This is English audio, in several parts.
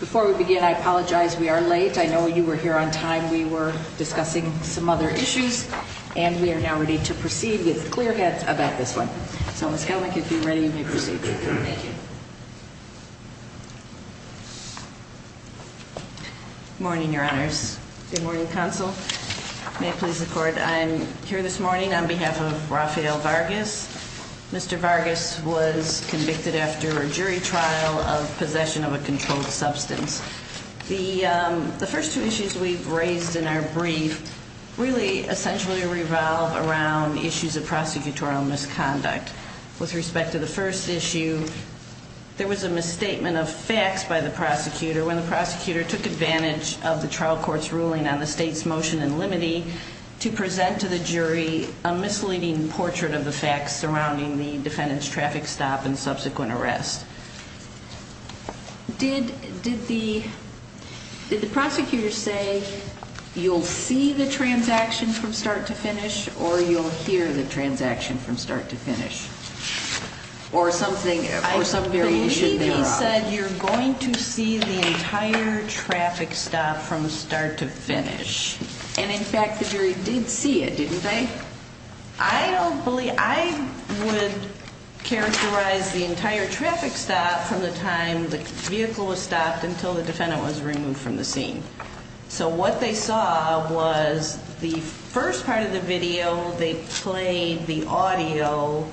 Before we begin, I apologize. We are late. I know you were here on time. We were discussing some other issues, and we are now ready to proceed with clear heads about this one. So, Ms. Helmick, if you're ready, you may proceed. Good morning, Your Honors. Good morning, Counsel. May it please the Court, I'm here this morning on behalf of Rafael Vargas. Mr. Vargas was convicted after a jury trial of possession of a controlled substance. The first two issues we've raised in our brief really essentially revolve around issues of prosecutorial misconduct. With respect to the first issue, there was a misstatement of facts by the prosecutor. When the prosecutor took advantage of the trial court's ruling on the state's motion in limine to present to the jury a misleading portrait of the facts surrounding the defendant's traffic stop and subsequent arrest. Did the prosecutor say, you'll see the transaction from start to finish, or you'll hear the transaction from start to finish? Or something, or some variation thereof. I believe he said, you're going to see the entire traffic stop from start to finish. And in fact, the jury did see it, didn't they? I don't believe, I would characterize the entire traffic stop from the time the vehicle was stopped until the defendant was removed from the scene. So what they saw was the first part of the video, they played the audio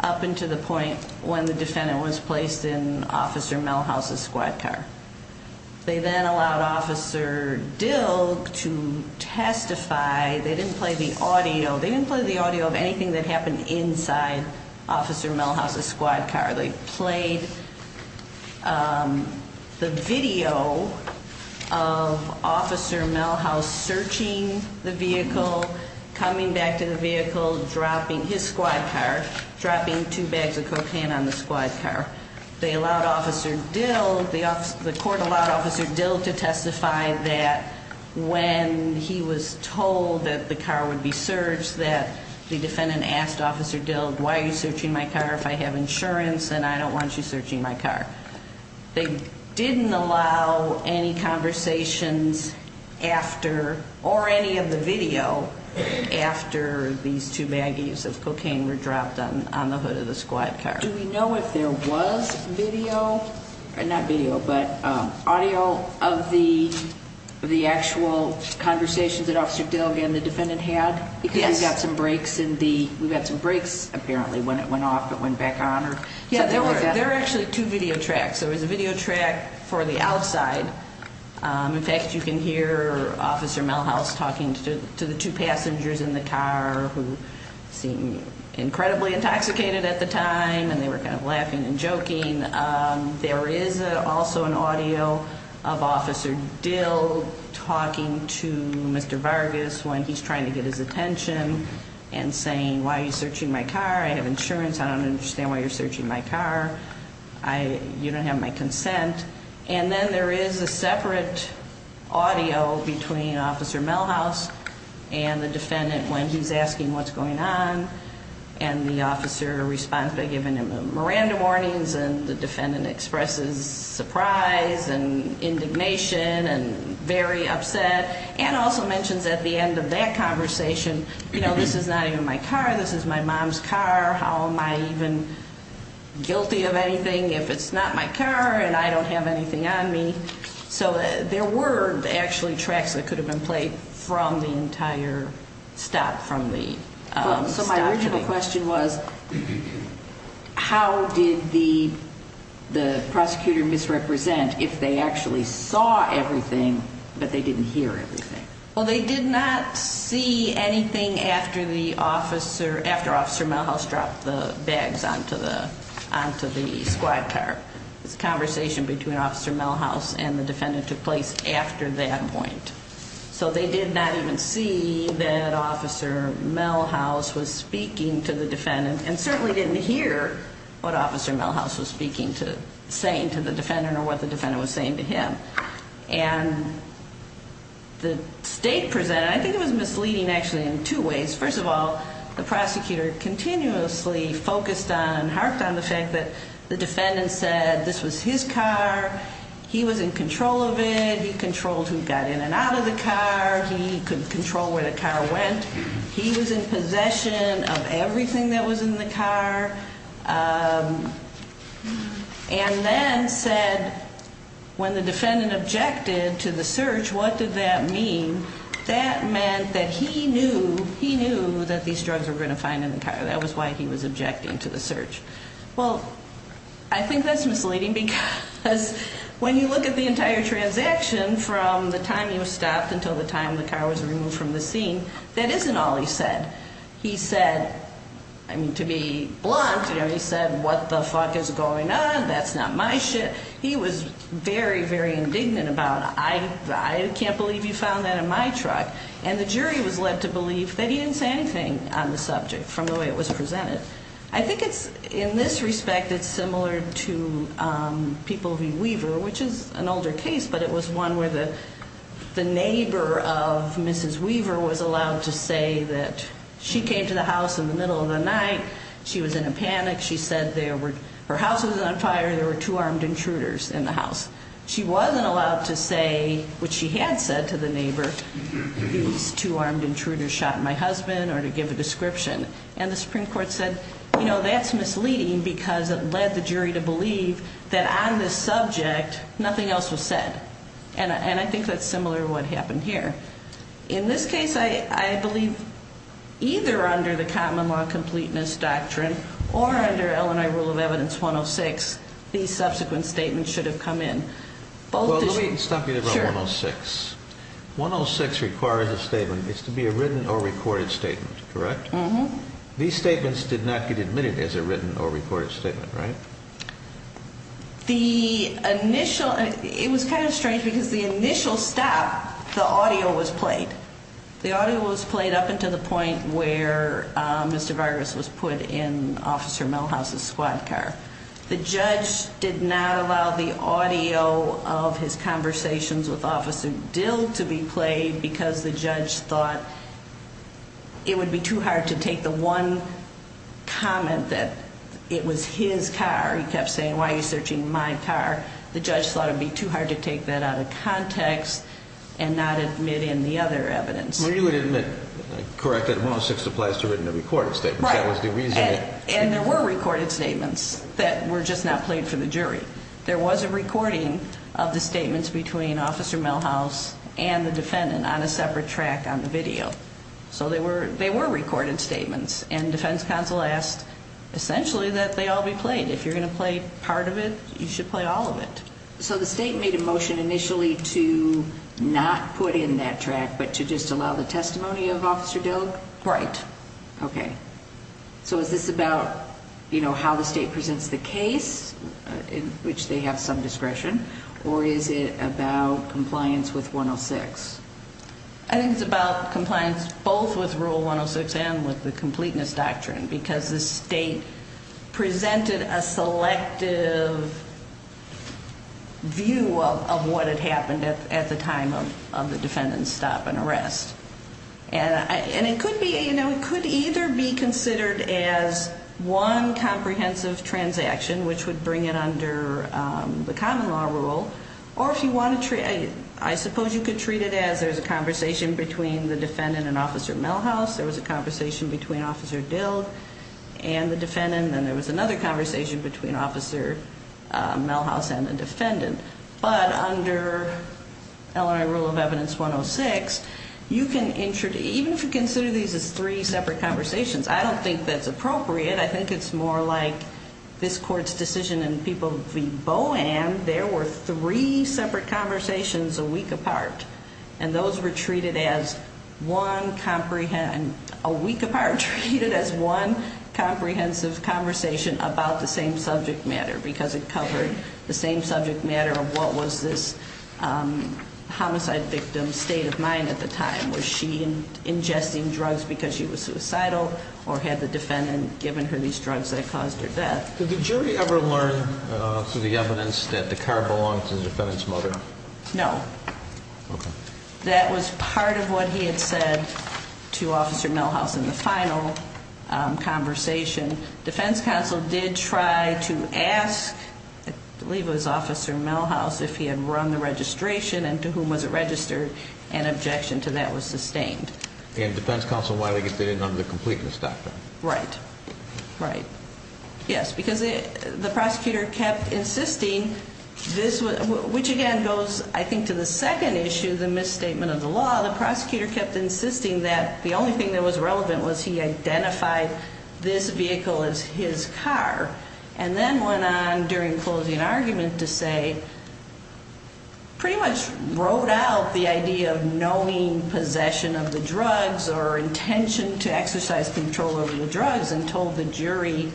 up until the point when the defendant was placed in Officer Melhouse's squad car. They then allowed Officer Dill to testify. They didn't play the audio. They didn't play the audio of anything that happened inside Officer Melhouse's squad car. They played the video of Officer Melhouse searching the vehicle, coming back to the vehicle, dropping his squad car, dropping two bags of cocaine on the squad car. They allowed Officer Dill, the court allowed Officer Dill to testify that when he was told that the car would be searched, that the defendant asked Officer Dill, why are you searching my car if I have insurance and I don't want you searching my car? They didn't allow any conversations after, or any of the video, after these two baggies of cocaine were dropped on the hood of the squad car. Do we know if there was video, not video, but audio of the actual conversations that Officer Dill and the defendant had? Yes. Because we got some breaks in the, we got some breaks apparently when it went off but went back on. Yeah, there were actually two video tracks. There was a video track for the outside. In fact, you can hear Officer Melhouse talking to the two passengers in the car who seemed incredibly intoxicated at the time and they were kind of laughing and joking. There is also an audio of Officer Dill talking to Mr. Vargas when he's trying to get his attention and saying, why are you searching my car? I have insurance. I don't understand why you're searching my car. You don't have my consent. And then there is a separate audio between Officer Melhouse and the defendant when he's asking what's going on. And the officer responds by giving him a Miranda warnings and the defendant expresses surprise and indignation and very upset. And also mentions at the end of that conversation, you know, this is not even my car. This is my mom's car. How am I even guilty of anything if it's not my car? And I don't have anything on me. So there were actually tracks that could have been played from the entire stop, from the stop. So my original question was, how did the prosecutor misrepresent if they actually saw everything but they didn't hear everything? Well, they did not see anything after Officer Melhouse dropped the bags onto the squad car. It's a conversation between Officer Melhouse and the defendant took place after that point. So they did not even see that Officer Melhouse was speaking to the defendant and certainly didn't hear what Officer Melhouse was speaking to, saying to the defendant or what the defendant was saying to him. And the state presented, I think it was misleading actually in two ways. First of all, the prosecutor continuously focused on, harped on the fact that the defendant said this was his car. He was in control of it. He controlled who got in and out of the car. He could control where the car went. He was in possession of everything that was in the car. And then said when the defendant objected to the search, what did that mean? That meant that he knew, he knew that these drugs were going to find in the car. That was why he was objecting to the search. Well, I think that's misleading because when you look at the entire transaction from the time he was stopped until the time the car was removed from the scene, that isn't all he said. He said, I mean to be blunt, you know, he said, what the fuck is going on? That's not my shit. He was very, very indignant about it. I can't believe you found that in my truck. And the jury was led to believe that he didn't say anything on the subject from the way it was presented. I think it's, in this respect, it's similar to people v. Weaver, which is an older case, but it was one where the neighbor of Mrs. Weaver was allowed to say that she came to the house in the middle of the night. She was in a panic. She said there were, her house was on fire. There were two armed intruders in the house. She wasn't allowed to say what she had said to the neighbor. These two armed intruders shot my husband or to give a description. And the Supreme Court said, you know, that's misleading because it led the jury to believe that on this subject, nothing else was said. And I think that's similar to what happened here. In this case, I believe either under the common law completeness doctrine or under Illinois rule of evidence 106, these subsequent statements should have come in. Well, let me stop you there on 106. 106 requires a statement. It's to be a written or recorded statement, correct? Mm-hmm. These statements did not get admitted as a written or recorded statement, right? The initial, it was kind of strange because the initial stop, the audio was played. The audio was played up until the point where Mr. Vargas was put in Officer Melhouse's squad car. The judge did not allow the audio of his conversations with Officer Dill to be played because the judge thought it would be too hard to take the one comment that it was his car. He kept saying, why are you searching my car? The judge thought it would be too hard to take that out of context and not admit in the other evidence. Well, you would admit, correct, that 106 applies to written or recorded statements. Right. And there were recorded statements that were just not played for the jury. There was a recording of the statements between Officer Melhouse and the defendant on a separate track on the video. So they were recorded statements, and defense counsel asked essentially that they all be played. If you're going to play part of it, you should play all of it. So the state made a motion initially to not put in that track but to just allow the testimony of Officer Dill? Right. Okay. So is this about how the state presents the case, in which they have some discretion, or is it about compliance with 106? I think it's about compliance both with Rule 106 and with the completeness doctrine because the state presented a selective view of what had happened at the time of the defendant's stop and arrest. And it could either be considered as one comprehensive transaction, which would bring it under the common law rule, or I suppose you could treat it as there's a conversation between the defendant and Officer Melhouse, there was a conversation between Officer Dill and the defendant, and then there was another conversation between Officer Melhouse and the defendant. But under LNI Rule of Evidence 106, even if you consider these as three separate conversations, I don't think that's appropriate. I think it's more like this Court's decision in People v. Bohan, there were three separate conversations a week apart, and those were treated as one comprehensive conversation about the same subject matter because it covered the same subject matter of what was this homicide victim's state of mind at the time. Was she ingesting drugs because she was suicidal or had the defendant given her these drugs that caused her death? Did the jury ever learn through the evidence that the car belonged to the defendant's mother? No. Okay. That was part of what he had said to Officer Melhouse in the final conversation. Defense counsel did try to ask, I believe it was Officer Melhouse, if he had run the registration and to whom was it registered, and objection to that was sustained. And defense counsel widely did it under the completeness doctrine. Right. Right. Yes, because the prosecutor kept insisting, which again goes, I think, to the second issue, the misstatement of the law. The prosecutor kept insisting that the only thing that was relevant was he identified this vehicle as his car. And then went on during closing argument to say, pretty much wrote out the idea of knowing possession of the drugs or intention to exercise control over the drugs and told the jury,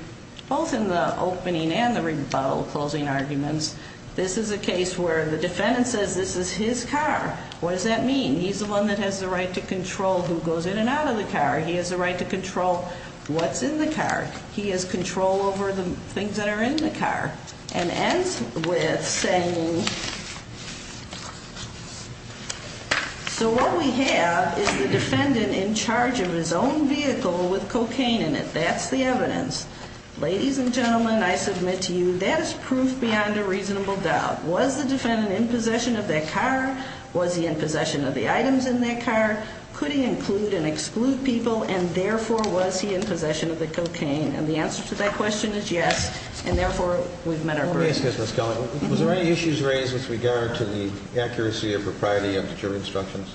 both in the opening and the rebuttal closing arguments, this is a case where the defendant says this is his car. What does that mean? He's the one that has the right to control who goes in and out of the car. He has the right to control what's in the car. He has control over the things that are in the car. And ends with saying, so what we have is the defendant in charge of his own vehicle with cocaine in it. That's the evidence. Ladies and gentlemen, I submit to you, that is proof beyond a reasonable doubt. Was the defendant in possession of that car? Was he in possession of the items in that car? Could he include and exclude people? And therefore, was he in possession of the cocaine? And the answer to that question is yes. And therefore, we've met our burden. Was there any issues raised with regard to the accuracy or propriety of the jury instructions?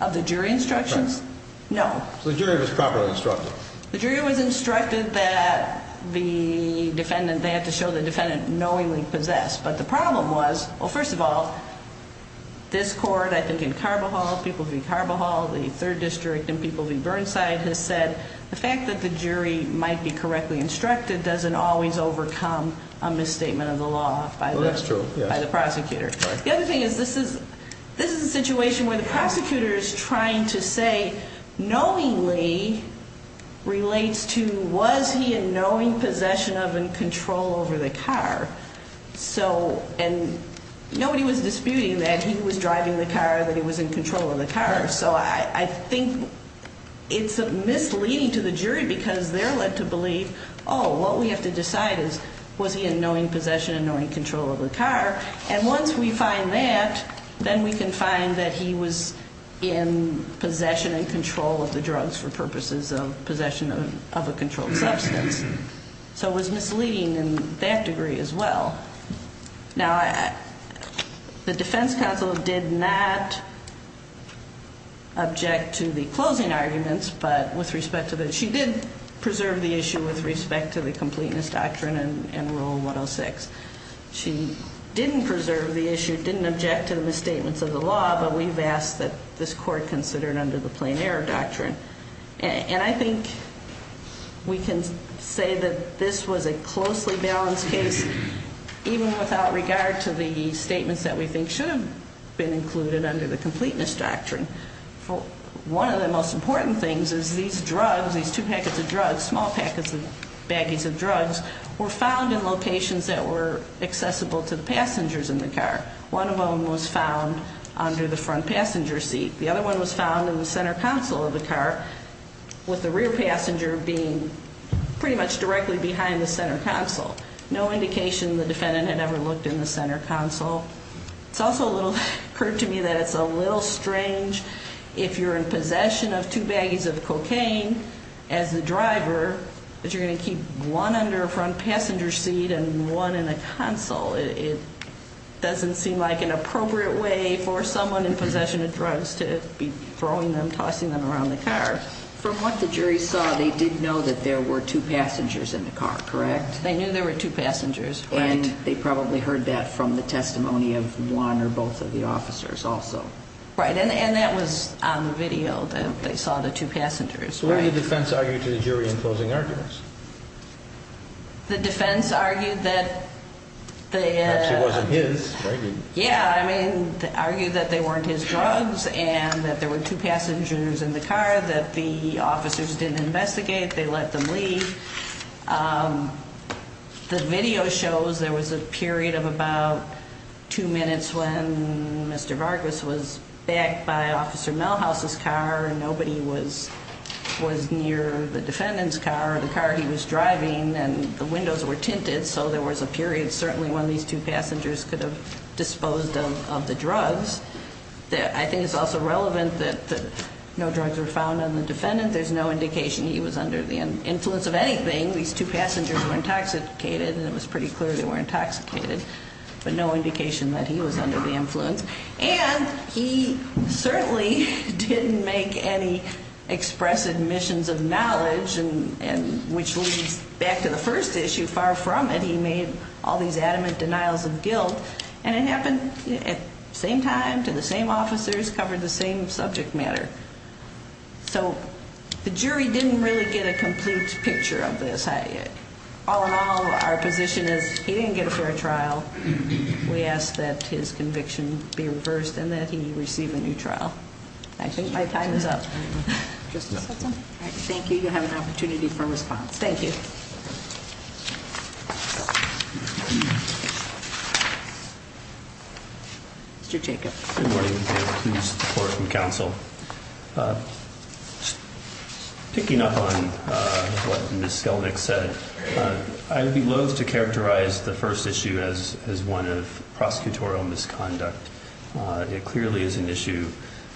Of the jury instructions? No. So the jury was properly instructed. The jury was instructed that the defendant, they had to show the defendant knowingly possessed. But the problem was, well, first of all, this court, I think in Carvajal, Peoples v. Carvajal, the third district in Peoples v. Burnside, has said the fact that the jury might be correctly instructed doesn't always overcome a misstatement of the law by the prosecutor. The other thing is this is a situation where the prosecutor is trying to say knowingly relates to was he in knowing possession of and control over the car? And nobody was disputing that he was driving the car, that he was in control of the car. So I think it's misleading to the jury because they're led to believe, oh, what we have to decide is was he in knowing possession and knowing control of the car? And once we find that, then we can find that he was in possession and control of the drugs for purposes of possession of a controlled substance. So it was misleading in that degree as well. Now, the defense counsel did not object to the closing arguments, but with respect to the she did preserve the issue with respect to the completeness doctrine in Rule 106. She didn't preserve the issue, didn't object to the misstatements of the law, but we've asked that this court consider it under the plain error doctrine. And I think we can say that this was a closely balanced case, even without regard to the statements that we think should have been included under the completeness doctrine. One of the most important things is these drugs, these two packets of drugs, small packets and baggies of drugs, were found in locations that were accessible to the passengers in the car. One of them was found under the front passenger seat. The other one was found in the center console of the car, with the rear passenger being pretty much directly behind the center console. No indication the defendant had ever looked in the center console. It's also occurred to me that it's a little strange if you're in possession of two baggies of cocaine as the driver, that you're going to keep one under a front passenger seat and one in a console. It doesn't seem like an appropriate way for someone in possession of drugs to be throwing them, tossing them around the car. From what the jury saw, they did know that there were two passengers in the car, correct? They knew there were two passengers. And they probably heard that from the testimony of one or both of the officers also. Right, and that was on the video that they saw the two passengers. What did the defense argue to the jury in closing arguments? The defense argued that they had- Perhaps it wasn't his, maybe. Yeah, I mean, they argued that they weren't his drugs and that there were two passengers in the car, that the officers didn't investigate, they let them leave. The video shows there was a period of about two minutes when Mr. Vargas was backed by Officer Melhouse's car, and nobody was near the defendant's car or the car he was driving, and the windows were tinted, so there was a period certainly when these two passengers could have disposed of the drugs. I think it's also relevant that no drugs were found on the defendant. There's no indication he was under the influence of anything. These two passengers were intoxicated, and it was pretty clear they were intoxicated, but no indication that he was under the influence. And he certainly didn't make any expressive admissions of knowledge, which leads back to the first issue, far from it. He made all these adamant denials of guilt, and it happened at the same time, to the same officers, covered the same subject matter. So the jury didn't really get a complete picture of this. All in all, our position is he didn't get a fair trial. We ask that his conviction be reversed and that he receive a new trial. I think my time is up. Justice Hudson? Thank you. You have an opportunity for response. Thank you. Mr. Jacob. Good morning. Please support from counsel. Picking up on what Ms. Skelnick said, I would be loath to characterize the first issue as one of prosecutorial misconduct. It clearly is an issue,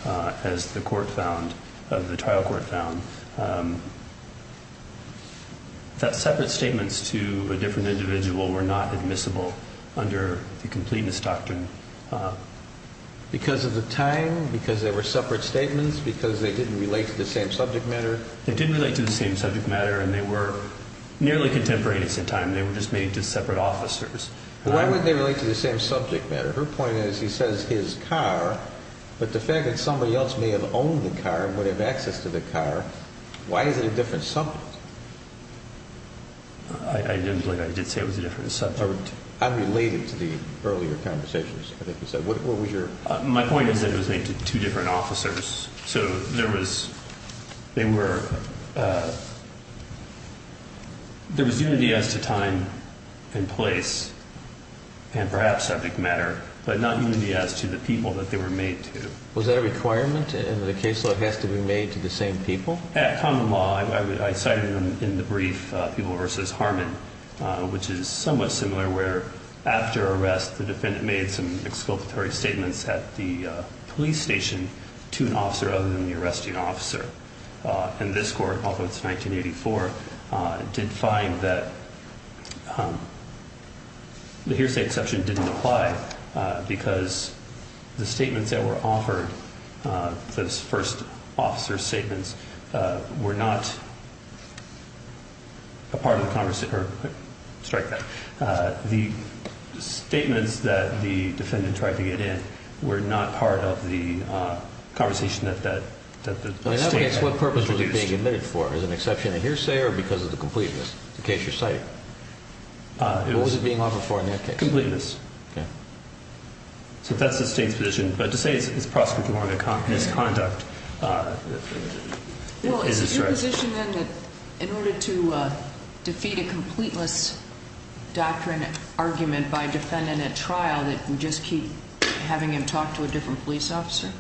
as the trial court found, that separate statements to a different individual were not admissible under the completeness doctrine. Because of the time? Because they were separate statements? Because they didn't relate to the same subject matter? They didn't relate to the same subject matter, and they were nearly contemporaneous in time. They were just made to separate officers. Why would they relate to the same subject matter? Her point is he says his car, but the fact that somebody else may have owned the car and would have access to the car, why is it a different subject? I didn't believe I did say it was a different subject. Unrelated to the earlier conversations, I think you said. What was your point? My point is that it was made to two different officers. There was unity as to time and place and perhaps subject matter, but not unity as to the people that they were made to. Was that a requirement in that a case law has to be made to the same people? At common law, I cited in the brief, people versus Harmon, which is somewhat similar where after arrest, the defendant made some exculpatory statements at the police station to an officer other than the arresting officer. And this court, although it's 1984, did find that the hearsay exception didn't apply because the statements that were offered, those first officer statements, were not a part of the conversation. Sorry. The statements that the defendant tried to get in were not part of the conversation that the statement produced. In that case, what purpose was it being admitted for? Is it an exception in hearsay or because of the completeness? In the case you're citing, what was it being offered for in that case? Completeness. Okay. So that's the state's position. But to say it's prosecutorial misconduct is a threat. Well, is it your position, then, that in order to defeat a completeness doctrine argument by a defendant at trial that we just keep having him talk to a different police officer?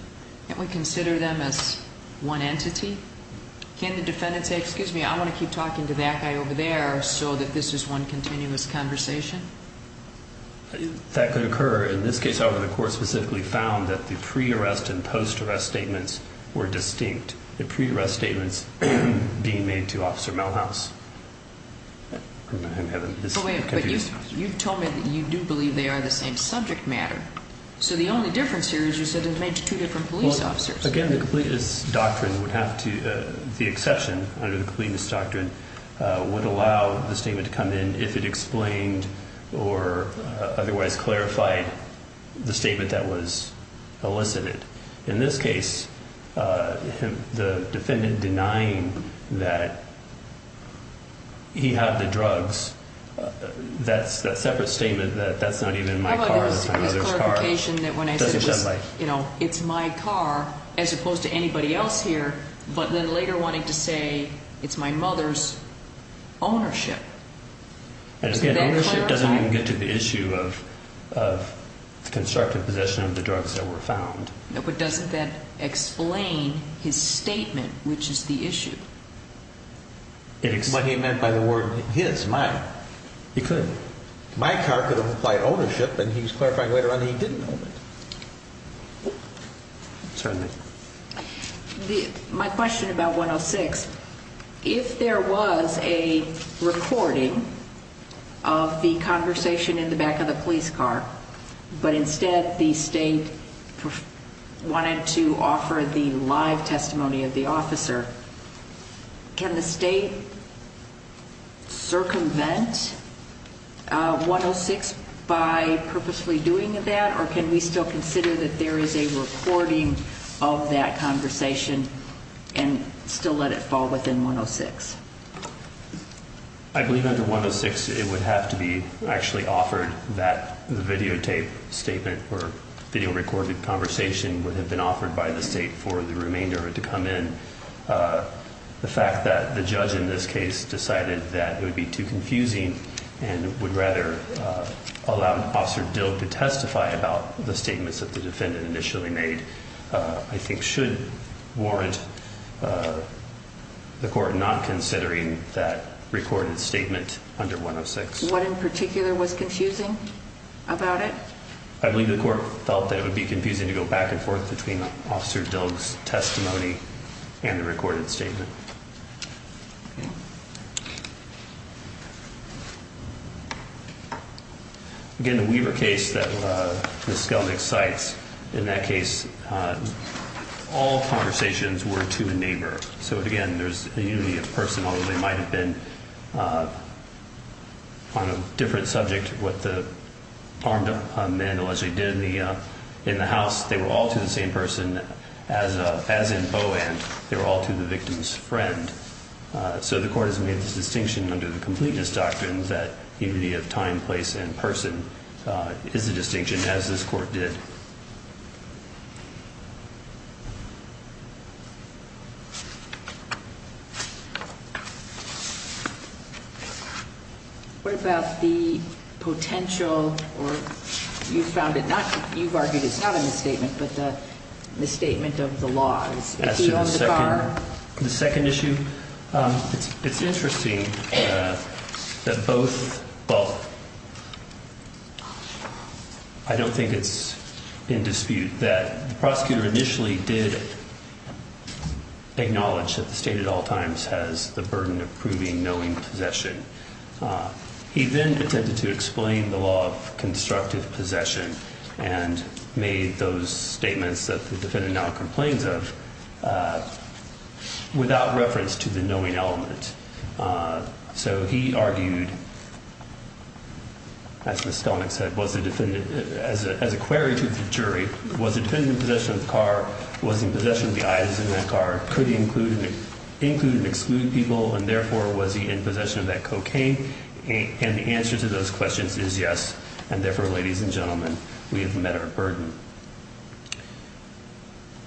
Can't we consider them as one entity? Can't the defendant say, excuse me, I want to keep talking to that guy over there so that this is one continuous conversation? That could occur. In this case, however, the court specifically found that the pre-arrest and post-arrest statements were distinct. The pre-arrest statements being made to Officer Melhouse. But you've told me that you do believe they are the same subject matter. So the only difference here is you said it was made to two different police officers. Again, the completeness doctrine would have to, the exception under the completeness doctrine, would allow the statement to come in if it explained or otherwise clarified the statement that was elicited. In this case, the defendant denying that he had the drugs, that separate statement that that's not even my car, that's my mother's car, doesn't sound right. It's my car as opposed to anybody else here, but then later wanting to say it's my mother's ownership. And again, ownership doesn't even get to the issue of the constructive possession of the drugs that were found. But doesn't that explain his statement, which is the issue? It's what he meant by the word his, mine. He could. My car could have implied ownership, and he's clarifying later on he didn't own it. Certainly. My question about 106, if there was a recording of the conversation in the back of the police car, but instead the state wanted to offer the live testimony of the officer, can the state circumvent 106 by purposefully doing that, or can we still consider that there is a recording of that conversation and still let it fall within 106? I believe under 106 it would have to be actually offered that the videotape statement or video recorded conversation would have been offered by the state for the remainder to come in. The fact that the judge in this case decided that it would be too confusing and would rather allow Officer Dilk to testify about the statements that the defendant initially made, I think should warrant the court not considering that recorded statement under 106. What in particular was confusing about it? I believe the court felt that it would be confusing to go back and forth between Officer Dilk's testimony and the recorded statement. Again, the Weaver case that Ms. Skellnick cites, in that case all conversations were to a neighbor. So, again, there's a unity of person, although they might have been on a different subject of what the armed men allegedly did in the house. They were all to the same person as in Bowen. They were all to the victim's friend. So the court has made this distinction under the completeness doctrine that unity of time, place, and person is a distinction, as this court did. What about the potential, or you've argued it's not a misstatement, but the misstatement of the law? As to the second issue, it's interesting that both, I don't think it's in dispute that the prosecutor initially did acknowledge that the state at all times has the burden of proving knowing possession. He then attempted to explain the law of constructive possession and made those statements that the defendant now complains of without reference to the knowing element. So he argued, as Ms. Skellnick said, as a query to the jury, was the defendant in possession of the car? Was he in possession of the items in that car? Could he include and exclude people, and therefore was he in possession of that cocaine? And the answer to those questions is yes. And therefore, ladies and gentlemen, we have met our burden.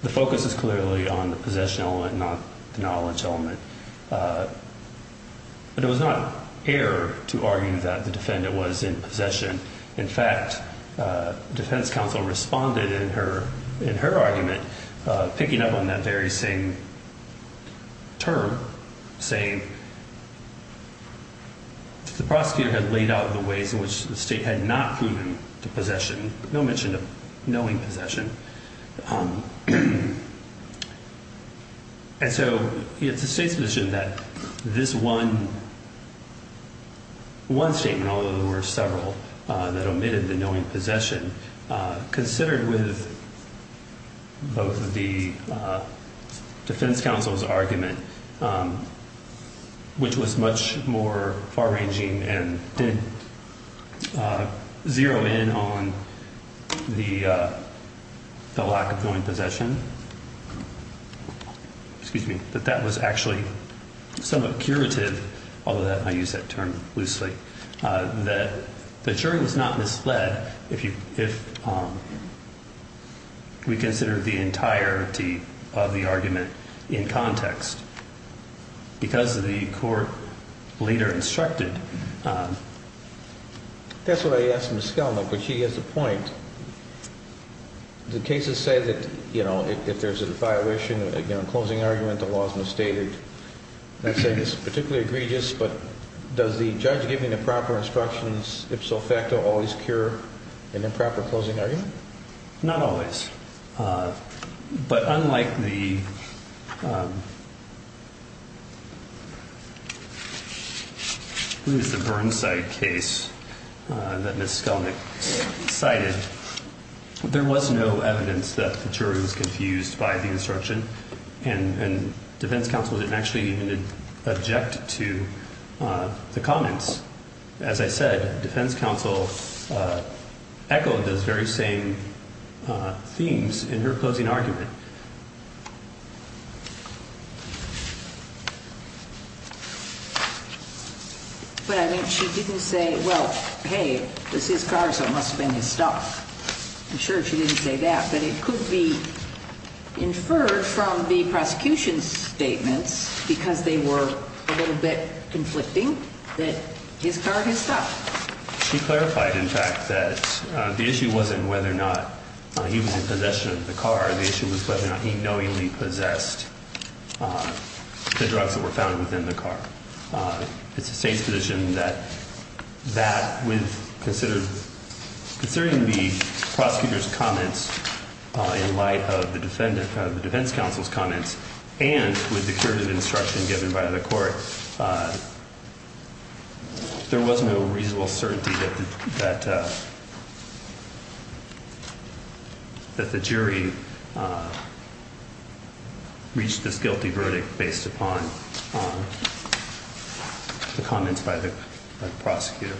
The focus is clearly on the possession element, not the knowledge element. But it was not air to argue that the defendant was in possession. In fact, defense counsel responded in her argument, picking up on that very same term, saying the prosecutor had laid out the ways in which the state had not proven to possession, but no mention of knowing possession. And so it's the state's position that this one statement, although there were several that omitted the knowing possession, considered with both the defense counsel's argument, which was much more far-ranging and didn't zero in on the lack of knowing possession, that that was actually somewhat curative, although I use that term loosely, that the jury was not misled if we consider the entirety of the argument in context. Because the court leader instructed. That's what I asked Ms. Kellner, but she has a point. The cases say that if there's a violation, a closing argument, the law is misstated. I say this is particularly egregious, but does the judge giving the proper instructions, ipso facto, always cure an improper closing argument? Not always. But unlike the Burnside case that Ms. Kellner cited, there was no evidence that the jury was confused by the instruction, and defense counsel didn't actually object to the comments. As I said, defense counsel echoed those very same themes in her closing argument. But I mean, she didn't say, well, hey, this is Garza, it must have been his stuff. I'm sure she didn't say that, but it could be inferred from the prosecution's statements, because they were a little bit conflicting, that his car, his stuff. She clarified, in fact, that the issue wasn't whether or not he was in possession of the car. The issue was whether or not he knowingly possessed the drugs that were found within the car. It's the state's position that with considering the prosecutor's comments in light of the defense counsel's comments, and with the curative instruction given by the court, there was no reasonable certainty that the jury reached this guilty verdict based upon the comments by the prosecutor.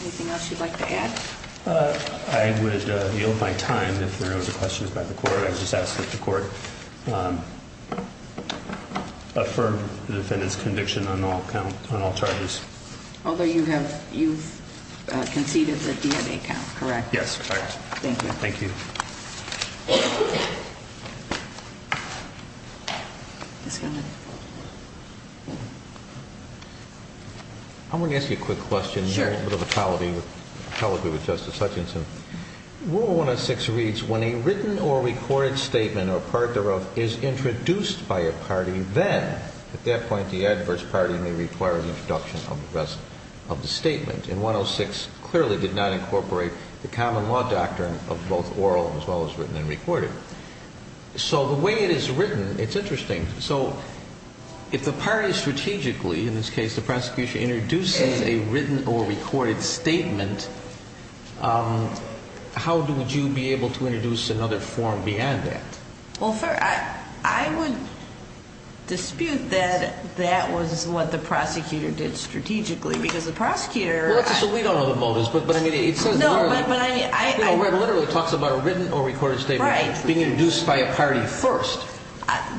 Anything else you'd like to add? I would yield my time if there are no other questions by the court. I would just ask that the court affirm the defendant's conviction on all charges. Although you've conceded the DNA count, correct? Yes, correct. Thank you. Thank you. I want to ask you a quick question. Sure. A little bit of a colloquy with Justice Hutchinson. Rule 106 reads, when a written or recorded statement or part thereof is introduced by a party, then at that point the adverse party may require the introduction of the rest of the statement. And 106 clearly did not incorporate the common law doctrine of both oral as well as written and recorded. So the way it is written, it's interesting. So if the party strategically, in this case the prosecution, introduces a written or recorded statement, how would you be able to introduce another form beyond that? Well, I would dispute that that was what the prosecutor did strategically because the prosecutor Well, that's so we don't know the motives. No, but I mean I You know, where it literally talks about a written or recorded statement being introduced by a party first.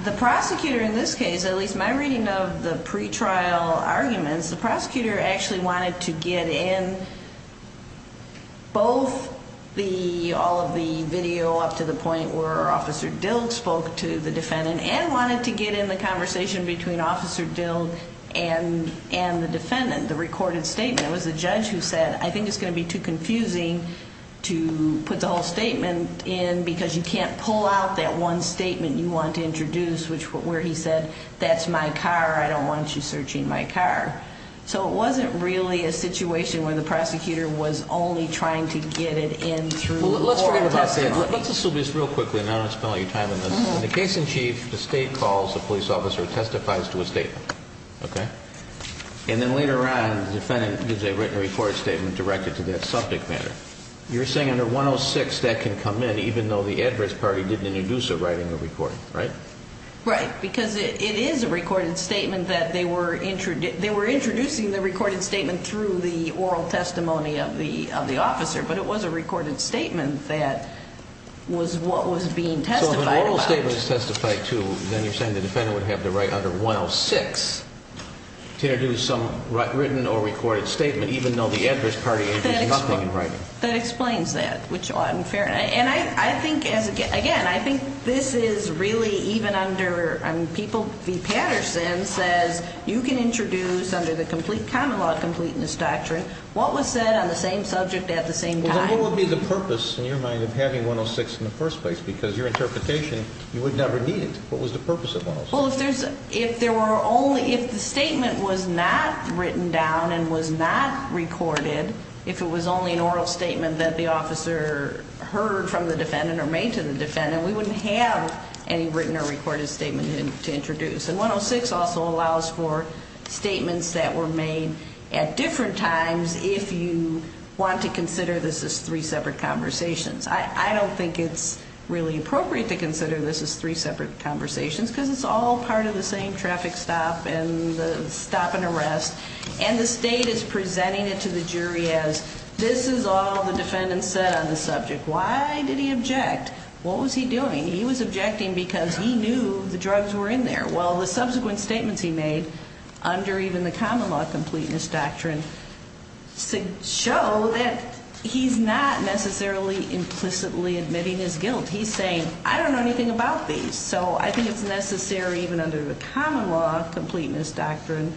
The prosecutor in this case, at least my reading of the pretrial arguments, the prosecutor actually wanted to get in both all of the video up to the point where Officer Dill spoke to the defendant and wanted to get in the conversation between Officer Dill and the defendant, the recorded statement. And it was the judge who said, I think it's going to be too confusing to put the whole statement in because you can't pull out that one statement you want to introduce where he said, that's my car, I don't want you searching my car. So it wasn't really a situation where the prosecutor was only trying to get it in through oral testimony. Let's assume this real quickly and I don't want to spend all your time on this. In the case in chief, the state calls the police officer, testifies to a statement. Okay. And then later on, the defendant gives a written report statement directed to that subject matter. You're saying under 106, that can come in even though the adverse party didn't introduce a writing or recording, right? Right, because it is a recorded statement that they were introducing. They were introducing the recorded statement through the oral testimony of the officer, but it was a recorded statement that was what was being testified about. So then you're saying the defendant would have to write under 106 to introduce some written or recorded statement, even though the adverse party introduced nothing in writing. That explains that, which is unfair. And I think, again, I think this is really even under people, the Patterson says you can introduce under the complete common law completeness doctrine, what was said on the same subject at the same time. What would be the purpose in your mind of having 106 in the first place? Because your interpretation, you would never need it. What was the purpose of 106? Well, if there were only, if the statement was not written down and was not recorded, if it was only an oral statement that the officer heard from the defendant or made to the defendant, we wouldn't have any written or recorded statement to introduce. And 106 also allows for statements that were made at different times if you want to consider this as three separate conversations. I don't think it's really appropriate to consider this as three separate conversations because it's all part of the same traffic stop and stop and arrest. And the state is presenting it to the jury as this is all the defendant said on the subject. Why did he object? What was he doing? He was objecting because he knew the drugs were in there. Well, the subsequent statements he made under even the common law completeness doctrine show that he's not necessarily implicitly admitting his guilt. He's saying, I don't know anything about these. So I think it's necessary even under the common law completeness doctrine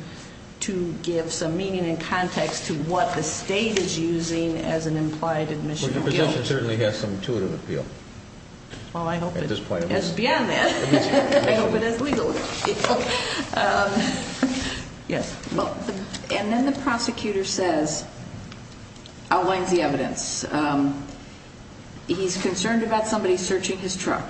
to give some meaning and context to what the state is using as an implied admission of guilt. Well, your position certainly has some intuitive appeal. Well, I hope it is. It's beyond that. I hope it is legal. Yes. And then the prosecutor says, outlines the evidence, he's concerned about somebody searching his truck.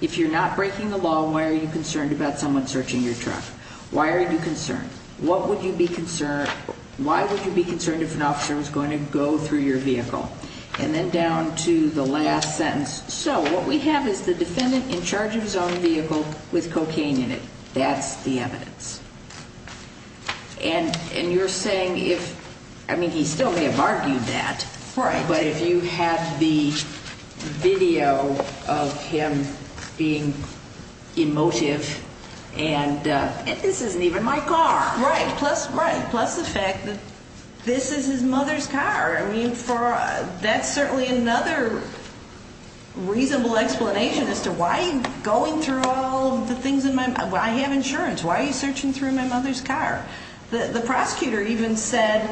If you're not breaking the law, why are you concerned about someone searching your truck? Why are you concerned? What would you be concerned? Why would you be concerned if an officer was going to go through your vehicle? And then down to the last sentence. So what we have is the defendant in charge of his own vehicle with cocaine in it. That's the evidence. And you're saying if, I mean, he still may have argued that. Right. But if you have the video of him being emotive and this isn't even my car. Right. Plus the fact that this is his mother's car. I mean, that's certainly another reasonable explanation as to why he's going through all the things in my, I have insurance. Why are you searching through my mother's car? The prosecutor even said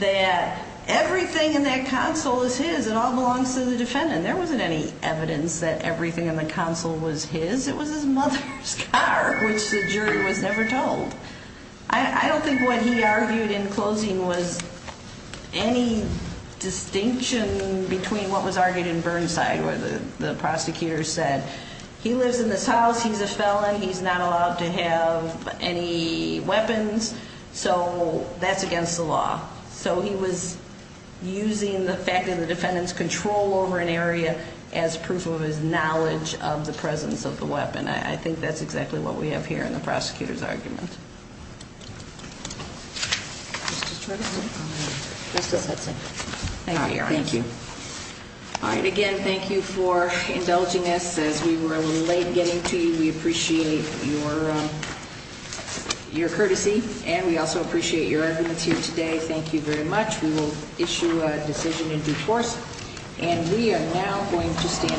that everything in that console is his and all belongs to the defendant. There wasn't any evidence that everything in the console was his. It was his mother's car, which the jury was never told. I don't think what he argued in closing was any distinction between what was argued in Burnside where the prosecutor said, he lives in this house, he's a felon, he's not allowed to have any weapons, so that's against the law. So he was using the fact that the defendant's control over an area as proof of his knowledge of the presence of the weapon. I think that's exactly what we have here in the prosecutor's argument. Thank you. All right. Again, thank you for indulging us as we were a little late getting to you. We appreciate your courtesy and we also appreciate your evidence here today. Thank you very much. We will issue a decision in due course and we are now going to stand.